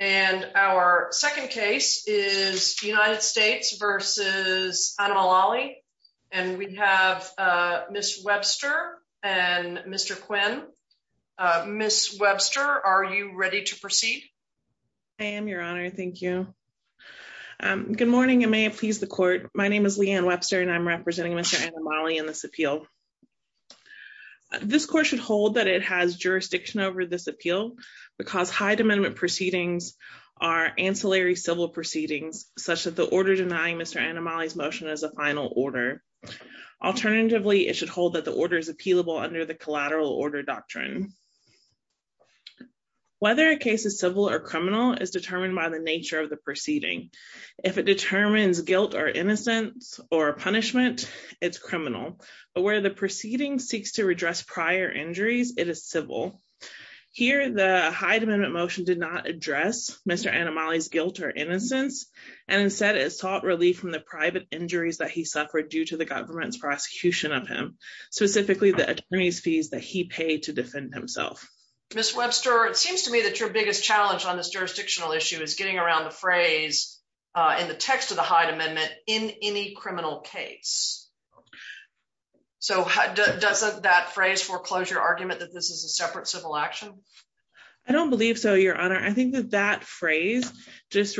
And our second case is United States v. Annamalai. And we have Ms. Webster and Mr. Quinn. Ms. Webster, are you ready to proceed? I am, Your Honor. Thank you. Good morning and may it please the Court. My name is Leanne Webster and I'm representing Mr. Annamalai in this appeal. This Court should hold that it has jurisdiction over this appeal because Hyde Amendment proceedings are ancillary civil proceedings such that the order denying Mr. Annamalai's motion is a final order. Alternatively, it should hold that the order is appealable under the collateral order doctrine. Whether a case is civil or criminal is determined by the nature of the proceeding. If it determines guilt or innocence or punishment, it's criminal. But where the proceeding seeks to redress prior injuries, it is civil. Here, the Hyde Amendment motion did not address Mr. Annamalai's guilt or innocence and instead it sought relief from the private injuries that he suffered due to the government's prosecution of him, specifically the attorneys' fees that he paid to defend himself. Ms. Webster, it seems to me that your biggest challenge on this jurisdictional issue is getting around the phrase in the text of the Hyde Amendment, in any criminal case. So doesn't that phrase foreclosure argument that this is a separate civil action? I don't believe so, Your Honor. I think that that phrase just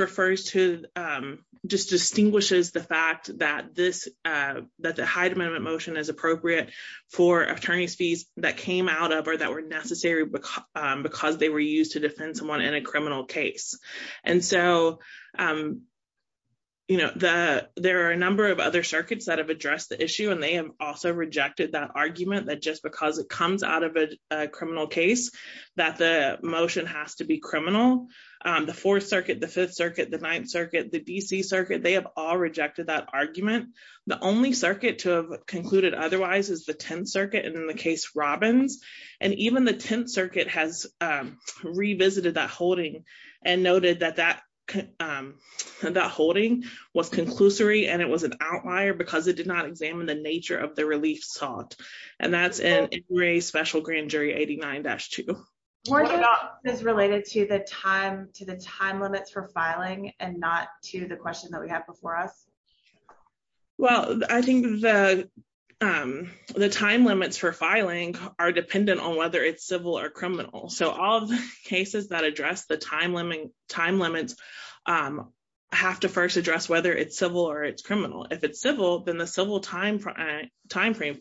distinguishes the fact that the Hyde Amendment motion is appropriate for attorneys' fees that came out of or that were necessary because they were used to defend someone in a criminal case. And so, you know, there are a number of other circuits that have addressed the issue and they have also rejected that argument that just because it comes out of a criminal case that the motion has to be criminal. The Fourth Circuit, the Fifth Circuit, the Ninth Circuit, the D.C. Circuit, they have all rejected that argument. The only circuit to have concluded otherwise is the Tenth Circuit and in the case Robbins. And even the Tenth Circuit has revisited that holding and noted that that holding was conclusory and it was an outlier because it did not examine the nature of the relief sought. And that's in Injury Special Grand Jury 89-2. Is this related to the time limits for filing and not to the question that we have before us? Well, I think the time limits for filing are dependent on whether it's civil or criminal. So all of the cases that address the time limits have to first address whether it's civil or it's criminal. If it's civil, then the civil time frame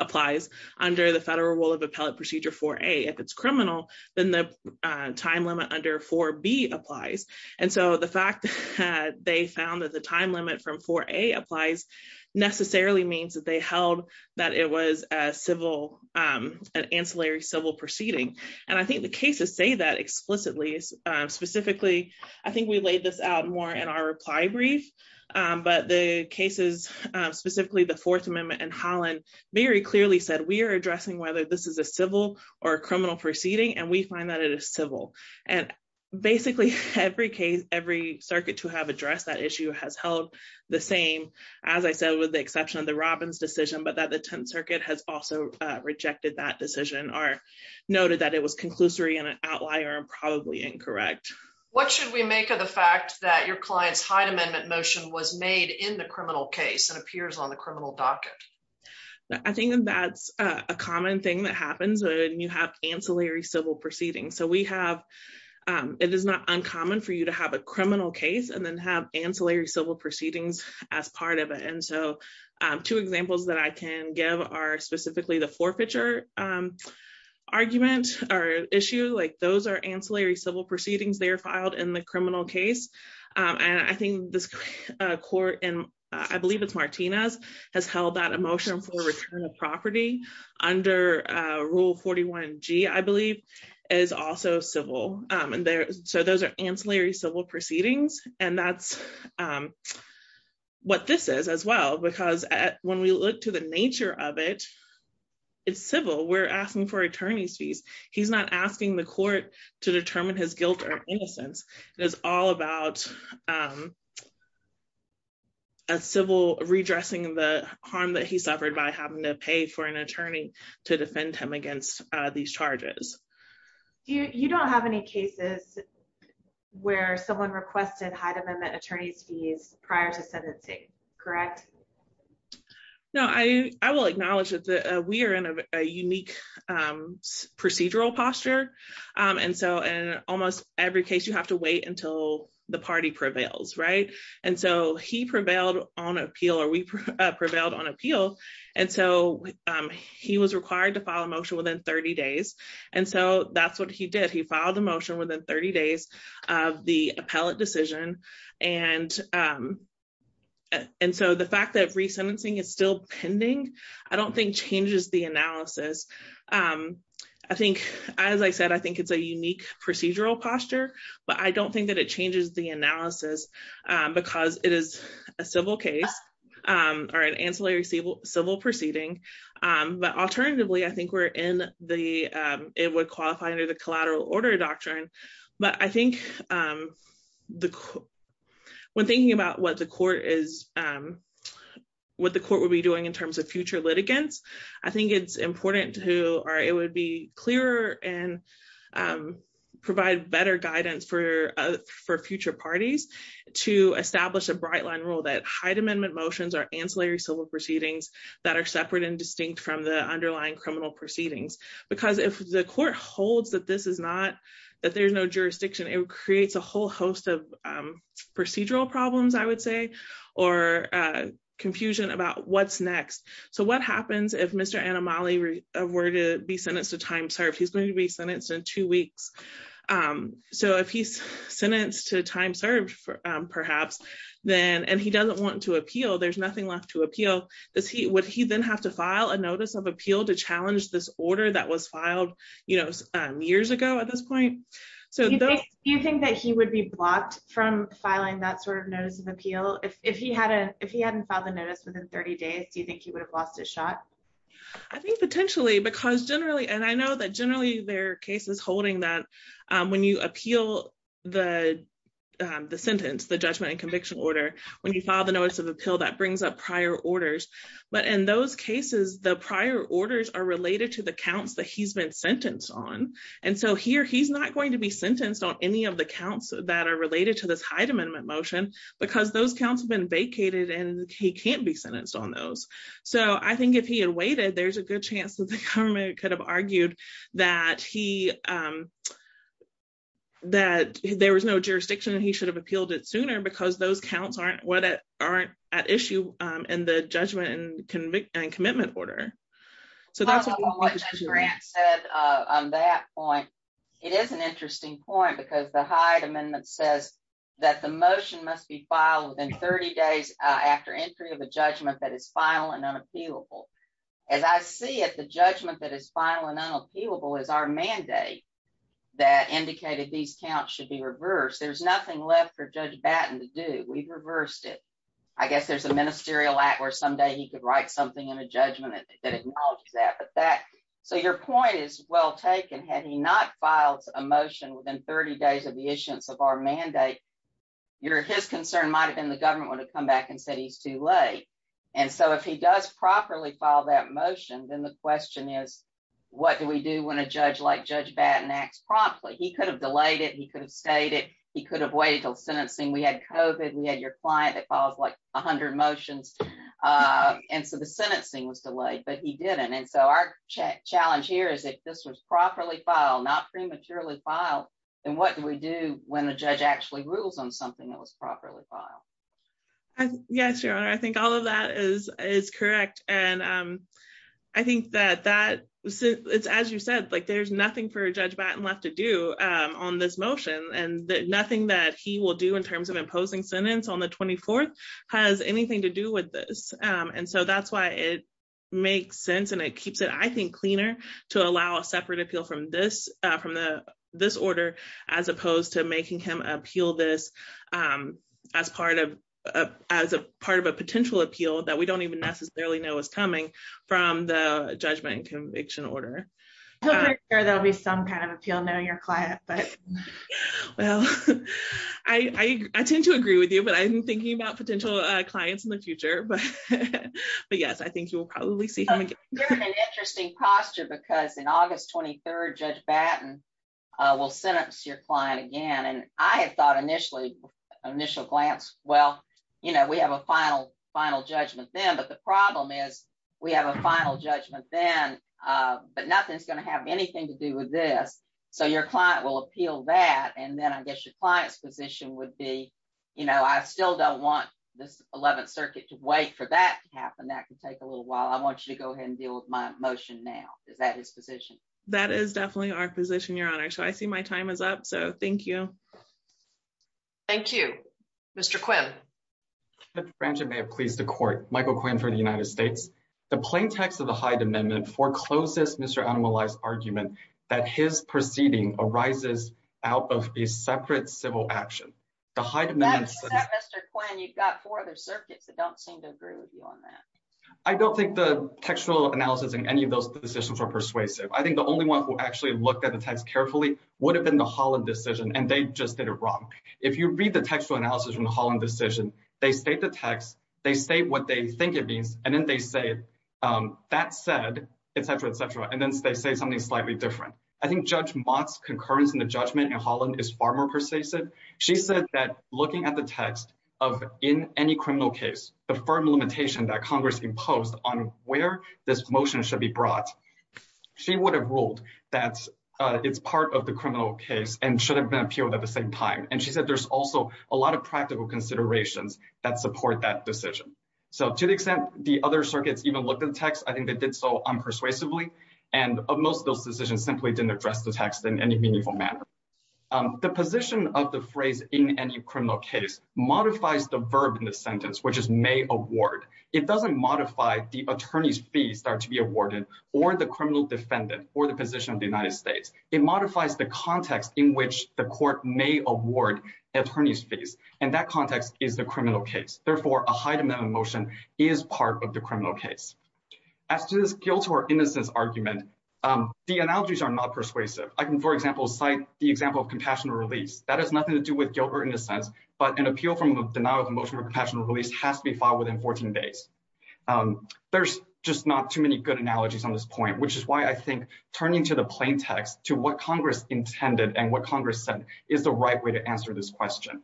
applies under the Federal Rule of Appellate Procedure 4A. If it's criminal, then the time limit under 4B applies. And so the fact that they found that the time limit from 4A applies necessarily means that they held that it was a civil, an ancillary civil proceeding. And I think the cases say that explicitly. Specifically, I think we laid this out more in our reply brief, but the cases, specifically the Fourth Amendment and Holland, very clearly said we are addressing whether this is a civil or criminal proceeding, and we find that it is civil. And basically every case, every circuit to have addressed that issue has held the same, as I said, with the exception of the Robbins decision, but that the Tenth Circuit has also rejected that decision or noted that it was conclusory and an outlier and probably incorrect. What should we make of the fact that your client's Hyde Amendment motion was made in the criminal case and appears on the criminal docket? I think that's a common thing that happens when you have ancillary civil proceedings. So we have, it is not uncommon for you to have a criminal case and then have ancillary civil proceedings as part of it. And so two examples that I can give are specifically the forfeiture argument or issue, like those are civil proceedings, they are filed in the criminal case. And I think this court, and I believe it's Martinez, has held that a motion for return of property under Rule 41G, I believe, is also civil. And so those are ancillary civil proceedings. And that's what this is as well, because when we look to the nature of it, it's civil. We're asking for attorney's fees. He's not asking the court to determine his guilt or innocence. It is all about a civil redressing the harm that he suffered by having to pay for an attorney to defend him against these charges. You don't have any cases where someone requested Hyde Amendment attorney's fees prior to sentencing, correct? No, I will acknowledge that we are in a unique procedural posture. And so in almost every case, you have to wait until the party prevails, right? And so he prevailed on appeal, or we prevailed on appeal. And so he was required to file a motion within 30 days. And so that's what he did. He resentencing is still pending, I don't think changes the analysis. I think, as I said, I think it's a unique procedural posture. But I don't think that it changes the analysis, because it is a civil case, or an ancillary civil proceeding. But alternatively, I think we're in the it would qualify under the collateral order doctrine. But I think the when thinking about what the court is, what the court will be doing in terms of future litigants, I think it's important to who are it would be clearer and provide better guidance for for future parties to establish a bright line rule that Hyde Amendment motions are ancillary civil proceedings that are separate and distinct from the underlying criminal proceedings. Because if the court holds that this is not that there's no jurisdiction, it creates a whole host of procedural problems, or confusion about what's next. So what happens if Mr. Anomaly were to be sentenced to time served, he's going to be sentenced in two weeks. So if he's sentenced to time served, perhaps, then and he doesn't want to appeal, there's nothing left to appeal. Does he would he then have to file a notice of appeal to challenge this order that was filed, you know, years ago at this if he hadn't, if he hadn't filed a notice within 30 days, do you think he would have lost his shot? I think potentially, because generally, and I know that generally, their case is holding that when you appeal the sentence, the judgment and conviction order, when you file the notice of appeal that brings up prior orders. But in those cases, the prior orders are related to the counts that he's been sentenced on. And so here, he's not going to be sentenced on any of the counts that are related to this Hyde Amendment motion, because those counts have been vacated, and he can't be sentenced on those. So I think if he had waited, there's a good chance that the government could have argued that he that there was no jurisdiction, he should have appealed it sooner, because those counts aren't what aren't at issue in the judgment and convict and commitment order. So that's what Grant said, on that point, it is an interesting point, because the Hyde Amendment says that the motion must be filed within 30 days after entry of a judgment that is final and unappealable. As I see it, the judgment that is final and unappealable is our mandate that indicated these counts should be reversed. There's nothing left for Judge Batten to do, we've reversed it. I guess there's a ministerial act where someday he could write something in a judgment that acknowledges that. But that so your point is well taken, had he not filed a motion within 30 days of the issuance of our mandate, your his concern might have been the government would have come back and said he's too late. And so if he does properly file that motion, then the question is, what do we do when a judge like Judge Batten acts promptly, he could have delayed it, he could have stayed it, he could have waited till sentencing, we had COVID, we had your client that calls like 100 motions. And so the sentencing was delayed, but he didn't. And so our challenge here is if this was properly filed, not prematurely filed, then what do we do when the judge actually rules on something that was properly filed? Yes, Your Honor, I think all of that is is correct. And I think that that it's as you said, like there's nothing for Judge Batten left to do on this motion. And nothing that he will do in terms of imposing sentence on the 24th has anything to do with this. And so that's why it makes sense. And it keeps it I think cleaner to allow a separate appeal from this from the this order, as opposed to making him appeal this as part of as a part of a potential appeal that we don't even necessarily know is coming from the judgment and conviction order. There'll be some kind of appeal knowing your client, but well, I tend to agree with you, but I'm thinking about potential clients in the future. But but yes, I think you will probably see an interesting posture because in August 23, Judge Batten will sentence your client again. And I thought initially, initial glance, well, you know, we have a final, final judgment then. But the problem is, we have a final judgment then. But nothing's going to have anything to do with this. So your client will appeal that and then I guess your client's position would be, you know, I still don't want this 11th Circuit to wait for that to happen. That can take a little while I want you to go ahead and deal with my motion now. Is that his position? That is definitely our position, Your Honor. So I see my time is up. So thank you. Thank you. Mr. Quim. Judge Branshaw may have pleased the court. Michael Quim for the United States. The plain text of the Hyde Amendment forecloses Mr. Animali's argument that his proceeding arises out of a separate civil action. The Hyde Amendment. That's not Mr. Quim, you've got four other circuits that don't seem to agree with you on that. I don't think the textual analysis in any of those decisions were persuasive. I think the only one who actually looked at the text carefully would have been the Holland decision and they just did it wrong. If you read the textual analysis from the Holland decision, they state the text, they state what they think it means, and then they say, that said, et cetera, et cetera, and then they say something slightly different. I think Judge Mott's concurrence in the judgment in Holland is far more persuasive. She said that looking at the text of in any criminal case, the firm limitation that Congress imposed on where this motion should be brought, she would have ruled that it's part of the criminal case and should have been appealed at the same time. And she said, there's also a lot of practical considerations that support that decision. So to the extent the other circuits even looked at the text, I think they did so unpersuasively. And of most of those decisions simply didn't address the text in any meaningful manner. The position of the phrase in any criminal case modifies the verb in the sentence, which is it doesn't modify the attorney's fees that are to be awarded or the criminal defendant or the position of the United States. It modifies the context in which the court may award attorney's fees. And that context is the criminal case. Therefore a high demand motion is part of the criminal case. As to this guilt or innocence argument, the analogies are not persuasive. I can, for example, cite the example of compassionate release. That has nothing to do with guilt or innocence, but an appeal from a denial of emotion or compassionate release has to be filed within 14 days. There's just not too many good analogies on this point, which is why I think turning to the plain text to what Congress intended and what Congress said is the right way to answer this question.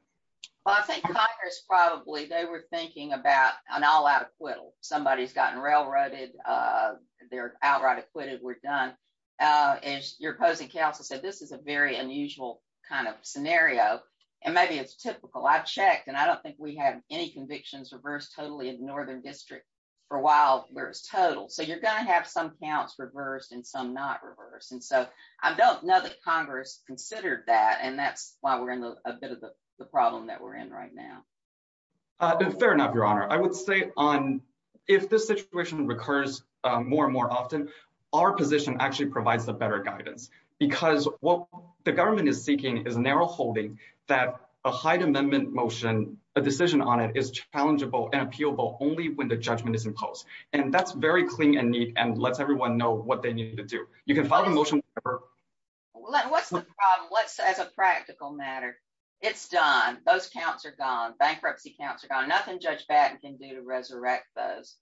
Well, I think Congress probably, they were thinking about an all-out acquittal. Somebody's gotten railroaded. They're outright acquitted. We're done. As your opposing counsel said, this is a very unusual kind of scenario and maybe it's typical. I've checked and I don't think we have any convictions reversed totally in the Northern District for a while where it's total. So you're going to have some counts reversed and some not reversed. And so I don't know that Congress considered that and that's why we're in a bit of the problem that we're in right now. Fair enough, Your Honor. I would say if this situation recurs more and more often, our position actually provides the better guidance because what the decision on it is challengeable and appealable only when the judgment is imposed. And that's very clean and neat and lets everyone know what they need to do. You can file a motion. What's the problem? Let's say as a practical matter, it's done. Those counts are gone. Bankruptcy counts are gone. Nothing Judge Batten can do to resurrect those.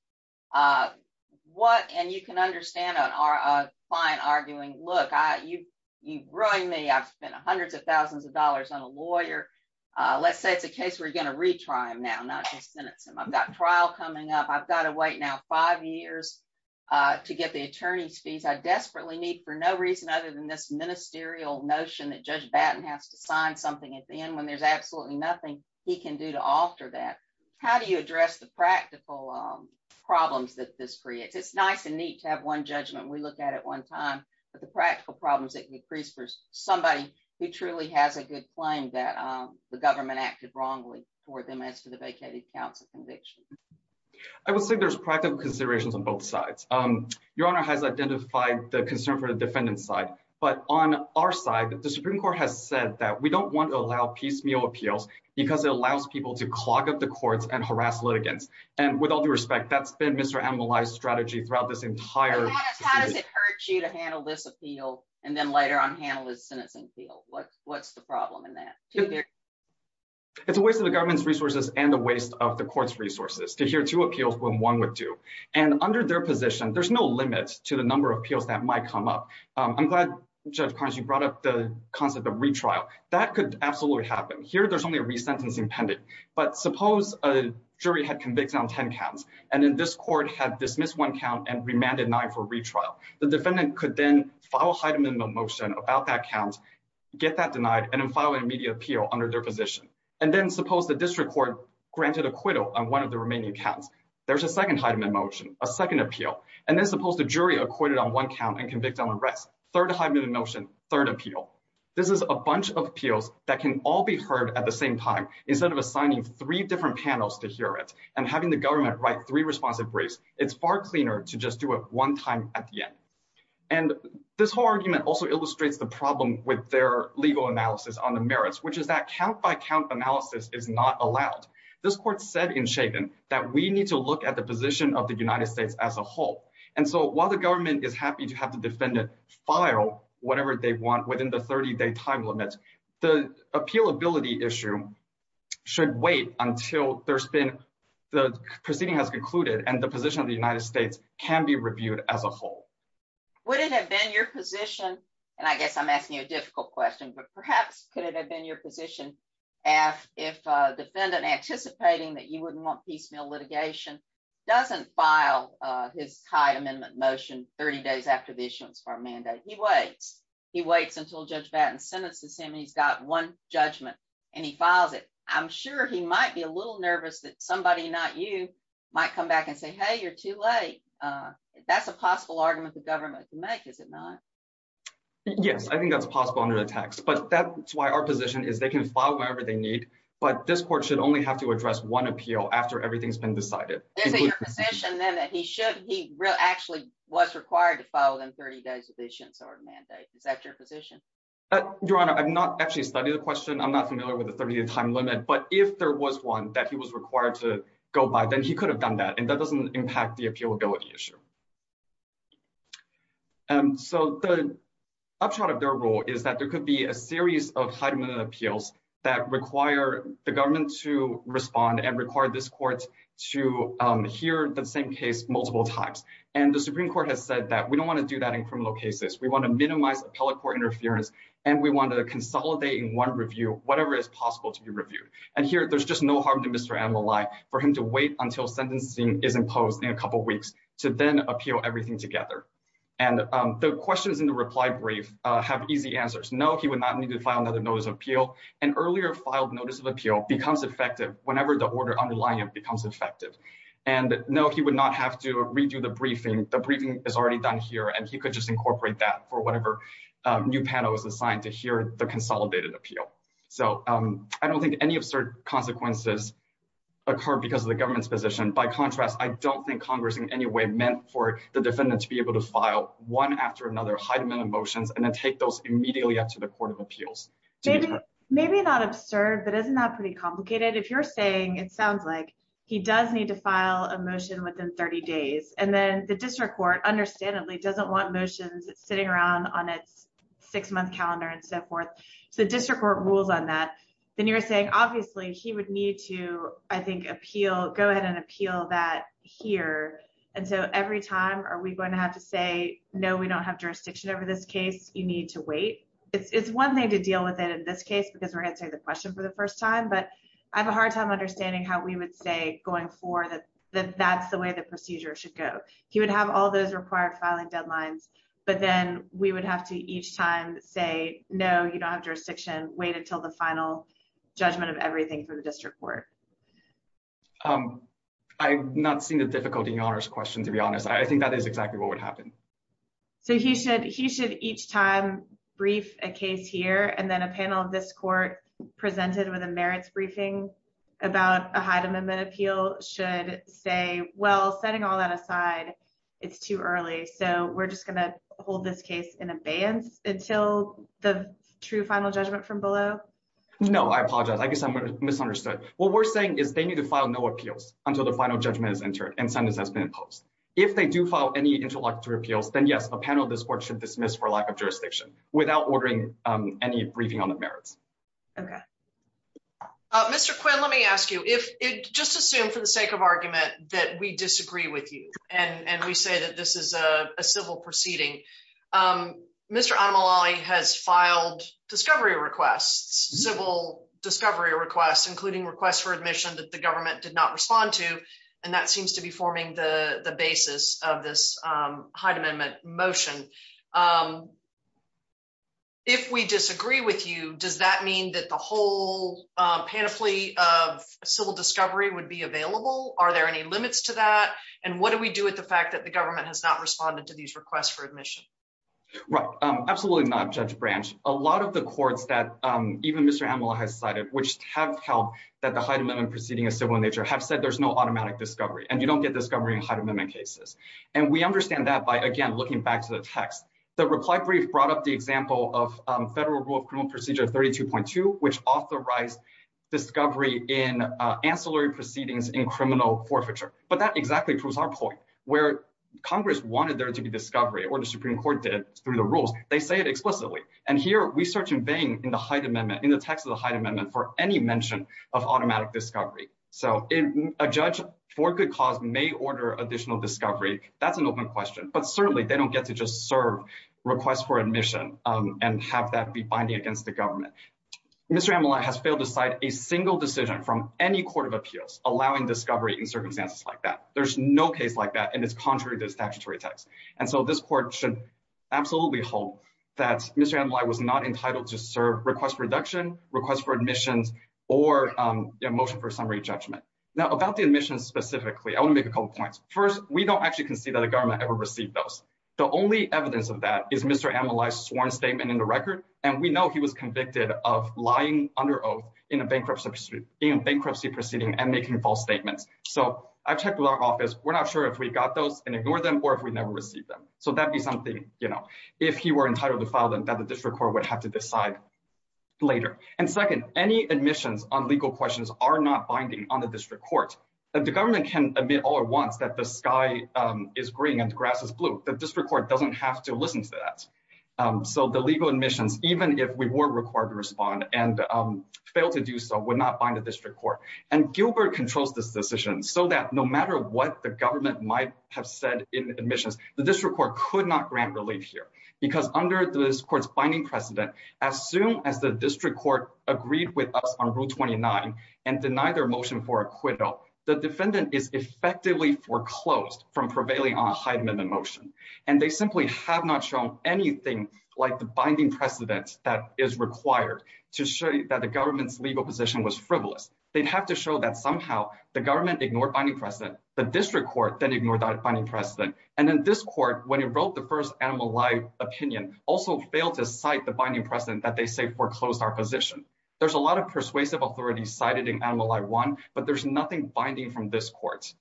And you can understand a client arguing, look, you've ruined me. I've spent hundreds of thousands of dollars on a lawyer. Let's say it's a case we're going to retry him now, not just sentence him. I've got trial coming up. I've got to wait now five years to get the attorney's fees. I desperately need for no reason other than this ministerial notion that Judge Batten has to sign something at the end when there's absolutely nothing he can do to alter that. How do you address the practical problems that this creates? It's nice and neat to have one judgment we look at at one time, but the practical problems that increase for somebody who truly has a good claim that the government acted wrongly for them as to the vacated counts of conviction. I would say there's practical considerations on both sides. Your Honor has identified the concern for the defendant's side. But on our side, the Supreme Court has said that we don't want to allow piecemeal appeals because it allows people to clog up the courts and harass litigants. And with all due respect, that's been Mr. Amalai's strategy throughout this entire. Your Honor, how does it hurt you to handle this appeal and then later on handle his sentencing appeal? What's the problem in that? It's a waste of the government's resources and a waste of the court's resources to hear two appeals when one would do. And under their position, there's no limits to the number of appeals that might come up. I'm glad, Judge Carnes, you brought up the concept of retrial. That could absolutely happen. Here, there's only 10 counts. And then this court had dismissed one count and remanded nine for retrial. The defendant could then file a height amendment motion about that count, get that denied, and then file an immediate appeal under their position. And then suppose the district court granted acquittal on one of the remaining counts. There's a second height amendment motion, a second appeal. And then suppose the jury acquitted on one count and convicted on the rest. Third height amendment motion, third appeal. This is a bunch of appeals that can all be heard at the same time instead of three different panels to hear it. And having the government write three responsive briefs, it's far cleaner to just do it one time at the end. And this whole argument also illustrates the problem with their legal analysis on the merits, which is that count-by-count analysis is not allowed. This court said in Chagin that we need to look at the position of the United States as a whole. And so while the government is happy to have the defendant file whatever they want within the 30-day time limit, the appealability issue should wait until the proceeding has concluded and the position of the United States can be reviewed as a whole. Would it have been your position, and I guess I'm asking you a difficult question, but perhaps could it have been your position if a defendant anticipating that you wouldn't want piecemeal litigation doesn't file his height amendment motion 30 days after the issuance of our mandate? He waits. He waits until Judge Battin sentences him and he's got one judgment and he files it. I'm sure he might be a little nervous that somebody, not you, might come back and say, hey, you're too late. That's a possible argument the government can make, is it not? Yes, I think that's possible under the text. But that's why our position is they can file whenever they need, but this court should only have to address one appeal after everything's been decided. Is it your position then that he should, he actually was required to file them 30 days with the issuance of our mandate? Is that your position? Your Honor, I've not actually studied the question. I'm not familiar with the 30-day time limit. But if there was one that he was required to go by, then he could have done that. And that doesn't impact the appealability issue. So the upshot of their rule is that there could be a series of height amendment appeals that require the government to respond and require this court to hear the same case multiple times. And the Supreme Court has said that we don't want to do that in criminal cases. We want to minimize appellate court interference, and we want to consolidate in one review whatever is possible to be reviewed. And here, there's just no harm to Mr. Annalai for him to wait until sentencing is imposed in a couple of weeks to then appeal everything together. And the questions in the reply brief have easy answers. No, he would not need to file another notice of appeal. An earlier filed notice of appeal becomes effective whenever the order underlying it becomes effective. And no, he would not have to redo the briefing. The briefing is already done here, and he could just incorporate that for whatever new panel is assigned to hear the consolidated appeal. So I don't think any absurd consequences occur because of the government's position. By contrast, I don't think Congress in any way meant for the defendant to be able to file one after another height amendment motions and then take those immediately up to the Court of Appeals. Maybe not absurd, but isn't that pretty complicated? If you're saying it sounds like he does need to file a motion within 30 days, and then the district court, understandably, doesn't want motions sitting around on its six-month calendar and so forth, so the district court rules on that. Then you're saying, obviously, he would need to, I think, go ahead and appeal that here. And so every time, are we going to have to say, no, we don't have jurisdiction over this case, you need to wait? It's one thing to deal with it in this case because we're answering the question for the first time, but I have a hard time how we would say going forward that that's the way the procedure should go. He would have all those required filing deadlines, but then we would have to each time say, no, you don't have jurisdiction, wait until the final judgment of everything for the district court. I've not seen the difficulty in your question, to be honest. I think that is exactly what would happen. So he should each time brief a case here, and then a panel of this court presented with a briefing about a high amendment appeal should say, well, setting all that aside, it's too early, so we're just going to hold this case in abeyance until the true final judgment from below. No, I apologize. I guess I misunderstood. What we're saying is they need to file no appeals until the final judgment is entered and sentence has been imposed. If they do file any introductory appeals, then yes, a panel of this court should dismiss for lack of jurisdiction without ordering any briefing on the merits. Okay. Mr. Quinn, let me ask you, just assume for the sake of argument that we disagree with you and we say that this is a civil proceeding. Mr. Anomali has filed discovery requests, civil discovery requests, including requests for admission that the government did not respond to, and that seems to be forming the basis of this high amendment motion. If we disagree with you, does that mean that the whole panoply of civil discovery would be available? Are there any limits to that? And what do we do with the fact that the government has not responded to these requests for admission? Right. Absolutely not, Judge Branch. A lot of the courts that even Mr. Anomali has cited, which have held that the high amendment proceeding is civil in nature, have said there's no automatic discovery, and you don't get discovery in high amendment cases. And we understand that by, again, looking back to the text. The reply brief brought up the example of Federal Rule of Criminal Procedure 32.2, which authorized discovery in ancillary proceedings in criminal forfeiture. But that exactly proves our point, where Congress wanted there to be discovery, or the Supreme Court did, through the rules. They say it explicitly. And here, we search in vain in the height amendment, in the text of the height amendment, for any mention of automatic discovery. So a judge, for good cause, may order additional discovery. That's an open question. But certainly, they don't get to just serve requests for admission and have that be binding against the government. Mr. Anomali has failed to cite a single decision from any court of appeals allowing discovery in circumstances like that. There's no case like that, and it's contrary to statutory text. And so this court should absolutely hope that Mr. Anomali was not entitled to serve request reduction, request for admissions, or a motion for summary judgment. Now, about the admissions specifically, I want to make a couple of points. First, we don't actually concede that the government ever received those. The only evidence of that is Mr. Anomali's sworn statement in the record, and we know he was convicted of lying under oath in a bankruptcy proceeding and making false statements. So I've checked with our office. We're not sure if we got those and ignored them, or if we never received them. So that'd be something, you know, if he were entitled to would have to decide later. And second, any admissions on legal questions are not binding on the district court. The government can admit all at once that the sky is green and the grass is blue. The district court doesn't have to listen to that. So the legal admissions, even if we were required to respond and failed to do so, would not bind the district court. And Gilbert controls this decision so that no matter what the government might have said in admissions, the district court could not grant relief here. Because under this court's binding precedent, as soon as the district court agreed with us on rule 29 and denied their motion for acquittal, the defendant is effectively foreclosed from prevailing on a high amendment motion. And they simply have not shown anything like the binding precedent that is required to show you that the government's legal position was frivolous. They'd have to show that somehow the government ignored binding precedent, the district court then ignored that binding precedent. And in this court, when he wrote the first Animal Eye opinion, also failed to cite the binding precedent that they say foreclosed our position. There's a lot of persuasive authority cited in Animal Eye 1, but there's nothing binding from this court.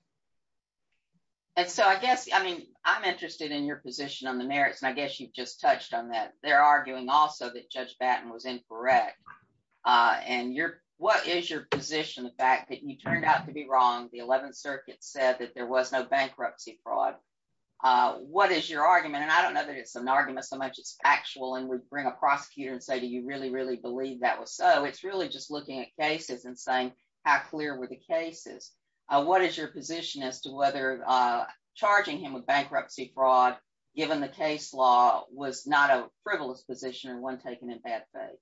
And so I guess, I mean, I'm interested in your position on the merits, and I guess you've just touched on that. They're arguing also that Judge Batten was incorrect. And what is your position, the fact that you turned out to be wrong, the 11th Circuit said that there was no bankruptcy fraud? What is your argument? And I don't know that it's an argument so much as factual and would bring a prosecutor and say, do you really, really believe that was so? It's really just looking at cases and saying, how clear were the cases? What is your position as to whether charging him with bankruptcy fraud, given the case law was not a frivolous position and one taken in bad faith?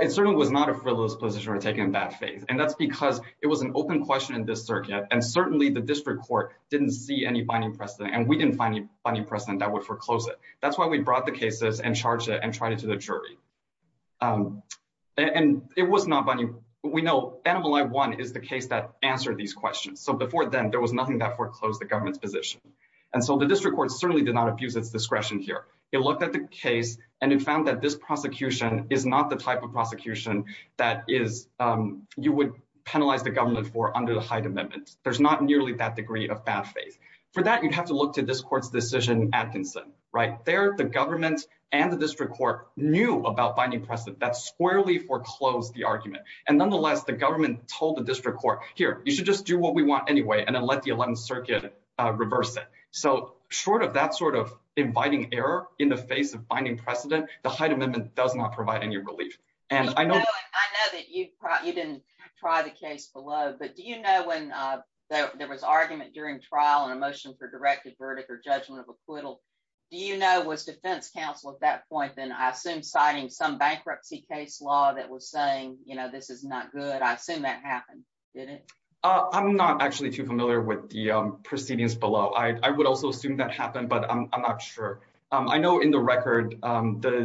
It certainly was not a frivolous position or taken in bad faith. And that's because it was an open question in this circuit. And certainly the district court didn't see any binding precedent, and we didn't find any binding precedent that would foreclose it. That's why we brought the cases and charged it and tried it to the jury. And it was not binding. We know Animal Eye 1 is the case that answered these questions. So before then, there was nothing that foreclosed the government's position. And so the district court certainly did not abuse its case, and it found that this prosecution is not the type of prosecution that you would penalize the government for under the Hyde Amendment. There's not nearly that degree of bad faith. For that, you'd have to look to this court's decision in Atkinson, right? There, the government and the district court knew about binding precedent that squarely foreclosed the argument. And nonetheless, the government told the district court, here, you should just do what we want anyway and then let the 11th Circuit reverse it. So short of that sort of inviting error in the face of binding precedent, the Hyde Amendment does not provide any relief. And I know... I know that you didn't try the case below, but do you know when there was argument during trial and a motion for directed verdict or judgment of acquittal, do you know, was defense counsel at that point then, I assume, citing some bankruptcy case law that was saying, you know, this is not good? I assume that happened, didn't it? I'm not actually too familiar with the proceedings below. I would also assume that happened, but I'm the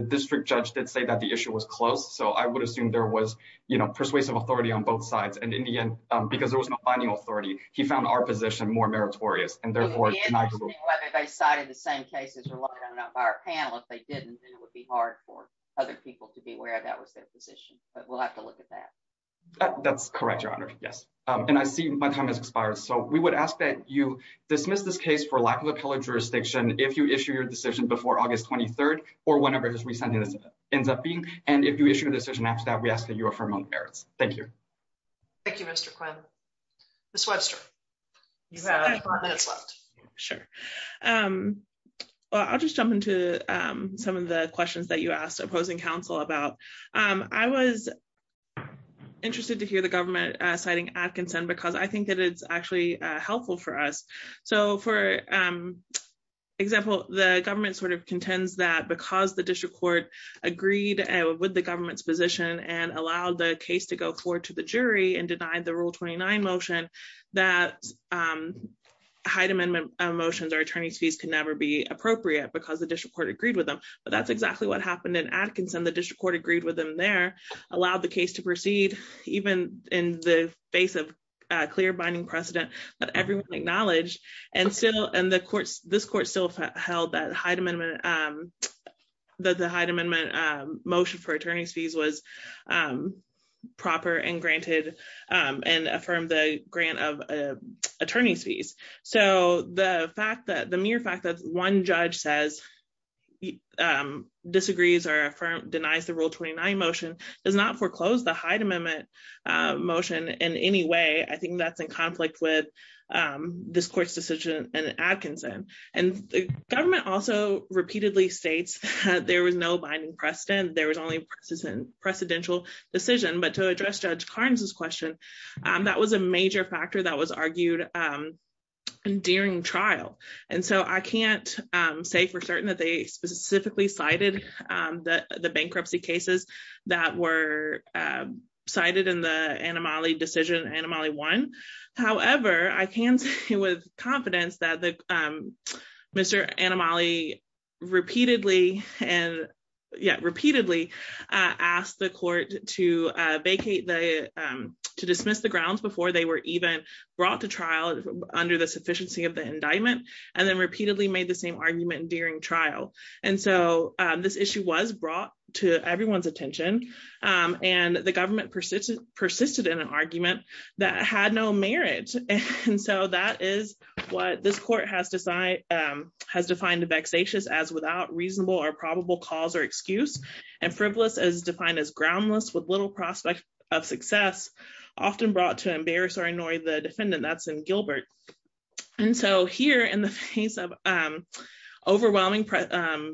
district judge did say that the issue was close. So I would assume there was, you know, persuasive authority on both sides. And in the end, because there was no binding authority, he found our position more meritorious and therefore... And the answer is whether they cited the same cases or not by our panel. If they didn't, then it would be hard for other people to be aware that was their position, but we'll have to look at that. That's correct, Your Honor. Yes. And I see my time has expired. So we would ask that you issue your decision before August 23rd or whenever this re-signing ends up being. And if you issue a decision after that, we ask that you affirm all the merits. Thank you. Thank you, Mr. Quinn. Ms. Webster, you have five minutes left. Sure. Well, I'll just jump into some of the questions that you asked opposing counsel about. I was interested to hear the government citing Adkinson because I think that it's actually helpful for us. So for example, the government sort of contends that because the district court agreed with the government's position and allowed the case to go forward to the jury and denied the Rule 29 motion, that Hyde Amendment motions or attorney's fees can never be appropriate because the district court agreed with them. But that's exactly what happened in Adkinson. The district court agreed with them there, allowed the case to go forward. And this court still held that the Hyde Amendment motion for attorney's fees was proper and granted and affirmed the grant of attorney's fees. So the mere fact that one judge disagrees or denies the Rule 29 motion does not foreclose the Hyde Amendment motion in any way. I think that's in conflict with this court's decision in Adkinson. And the government also repeatedly states that there was no binding precedent. There was only precedential decision. But to address Judge Carnes's question, that was a major factor that was argued during trial. And so I can't say for certain that they specifically cited the bankruptcy cases that were cited in the Anomaly decision, Anomaly 1. However, I can say with confidence that Mr. Anomaly repeatedly asked the court to vacate, to dismiss the grounds before they were even brought to trial under the sufficiency of the indictment, and then repeatedly made the same argument during trial. And so this issue was brought to everyone's attention. And the government persisted in an argument that had no merit. And so that is what this court has defined as vexatious as without reasonable or probable cause or excuse, and frivolous as defined as groundless with little prospect of success, often brought to embarrass the defendant. That's in Gilbert. And so here in the face of overwhelming precedent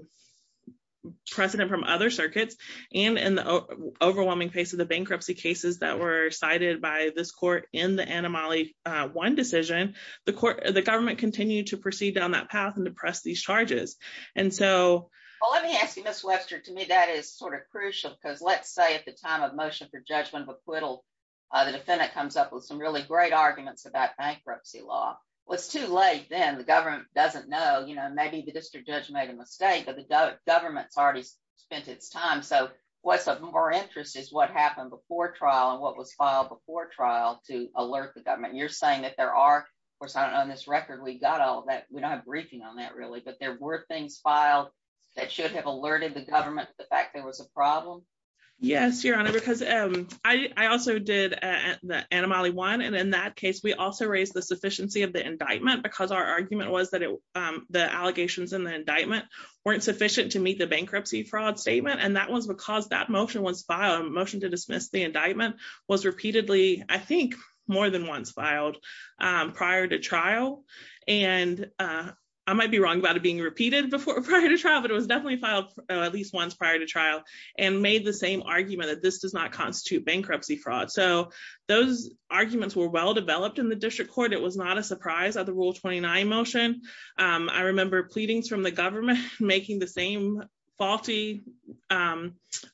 from other circuits, and in the overwhelming face of the bankruptcy cases that were cited by this court in the Anomaly 1 decision, the government continued to proceed down that path and to press these charges. And so... Well, let me ask you, Ms. Webster, to me, that is sort of crucial because let's say at the time of motion for judgment of acquittal, the defendant comes up with some really great arguments about bankruptcy law. Well, it's too late then, the government doesn't know, you know, maybe the district judge made a mistake, but the government's already spent its time. So what's of more interest is what happened before trial and what was filed before trial to alert the government. You're saying that there are, of course, on this record, we got all that, we don't have a briefing on that really, but there were things filed that should have alerted the government to the fact there was a problem? Yes, Your Honor, because I also did the Anomaly 1, and in that case, we also raised the sufficiency of the indictment because our argument was that the allegations in the indictment weren't sufficient to meet the bankruptcy fraud statement. And that was because that motion was filed, a motion to dismiss the indictment was repeatedly, I think more than once filed prior to trial. And I might be wrong about it being repeated prior to trial, but it was definitely filed at least once prior to trial, and made the same argument that this does not constitute bankruptcy fraud. So those arguments were well developed in the district court. It was not a surprise at the Rule 29 motion. I remember pleadings from the government making the same faulty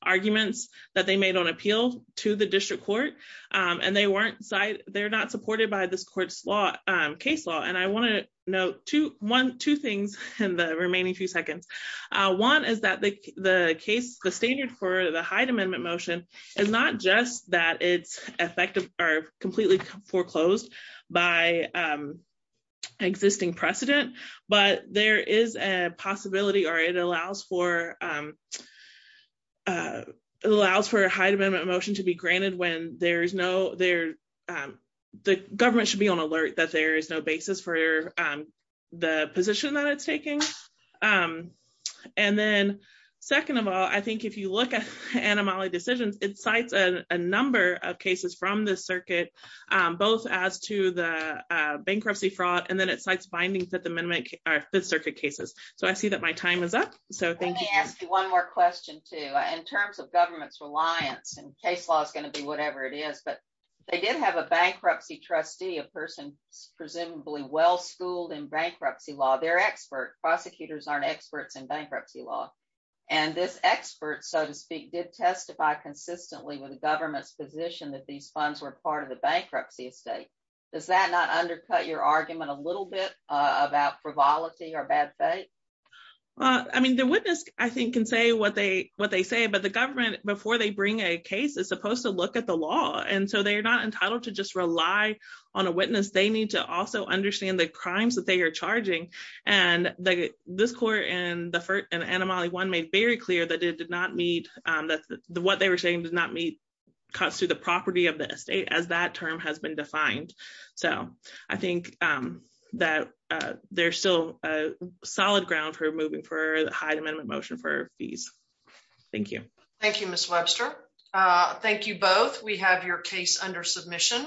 arguments that they made on appeal to the district court. And they weren't side, they're not supported by this court's law, case law. And I want to note two, one, two things in the remaining few seconds. One is that the case, the standard for the Hyde Amendment motion is not just that it's effective or completely foreclosed by existing precedent, but there is a possibility or it allows for it allows for a Hyde Amendment motion to be granted when there's no there, the government should be on alert that there is no basis for the position that it's taking. And then, second of all, I think if you look at Anomaly decisions, it cites a number of cases from the circuit, both as to the bankruptcy fraud, and then it cites bindings that the amendment or Fifth Circuit cases. So I see that my time is up. So thank you. Let me ask you one more question too, in terms of government's reliance and case law is going to be whatever it is, but they did have a bankruptcy trustee, a person presumably well schooled in bankruptcy law, they're experts, prosecutors aren't experts in bankruptcy law. And this expert, so to speak, did testify consistently with the government's position that these funds were part of the bankruptcy estate. Does that not undercut your argument a little bit about frivolity or bad faith? I mean, the witness, I think, can say what they what they say, but the government before they bring a case is supposed to look at the law. And so they're not entitled to just rely on a witness, they need to also understand the crimes that they are charging. And the this court and the first and Anomaly one made very clear that it did not meet that the what they were saying did not meet cuts to the property of the estate as that term has been defined. So I think that there's still a solid ground for moving for the Hyde Amendment motion for fees. Thank you. Thank you, Miss Webster. Thank you both. We have your case under submission.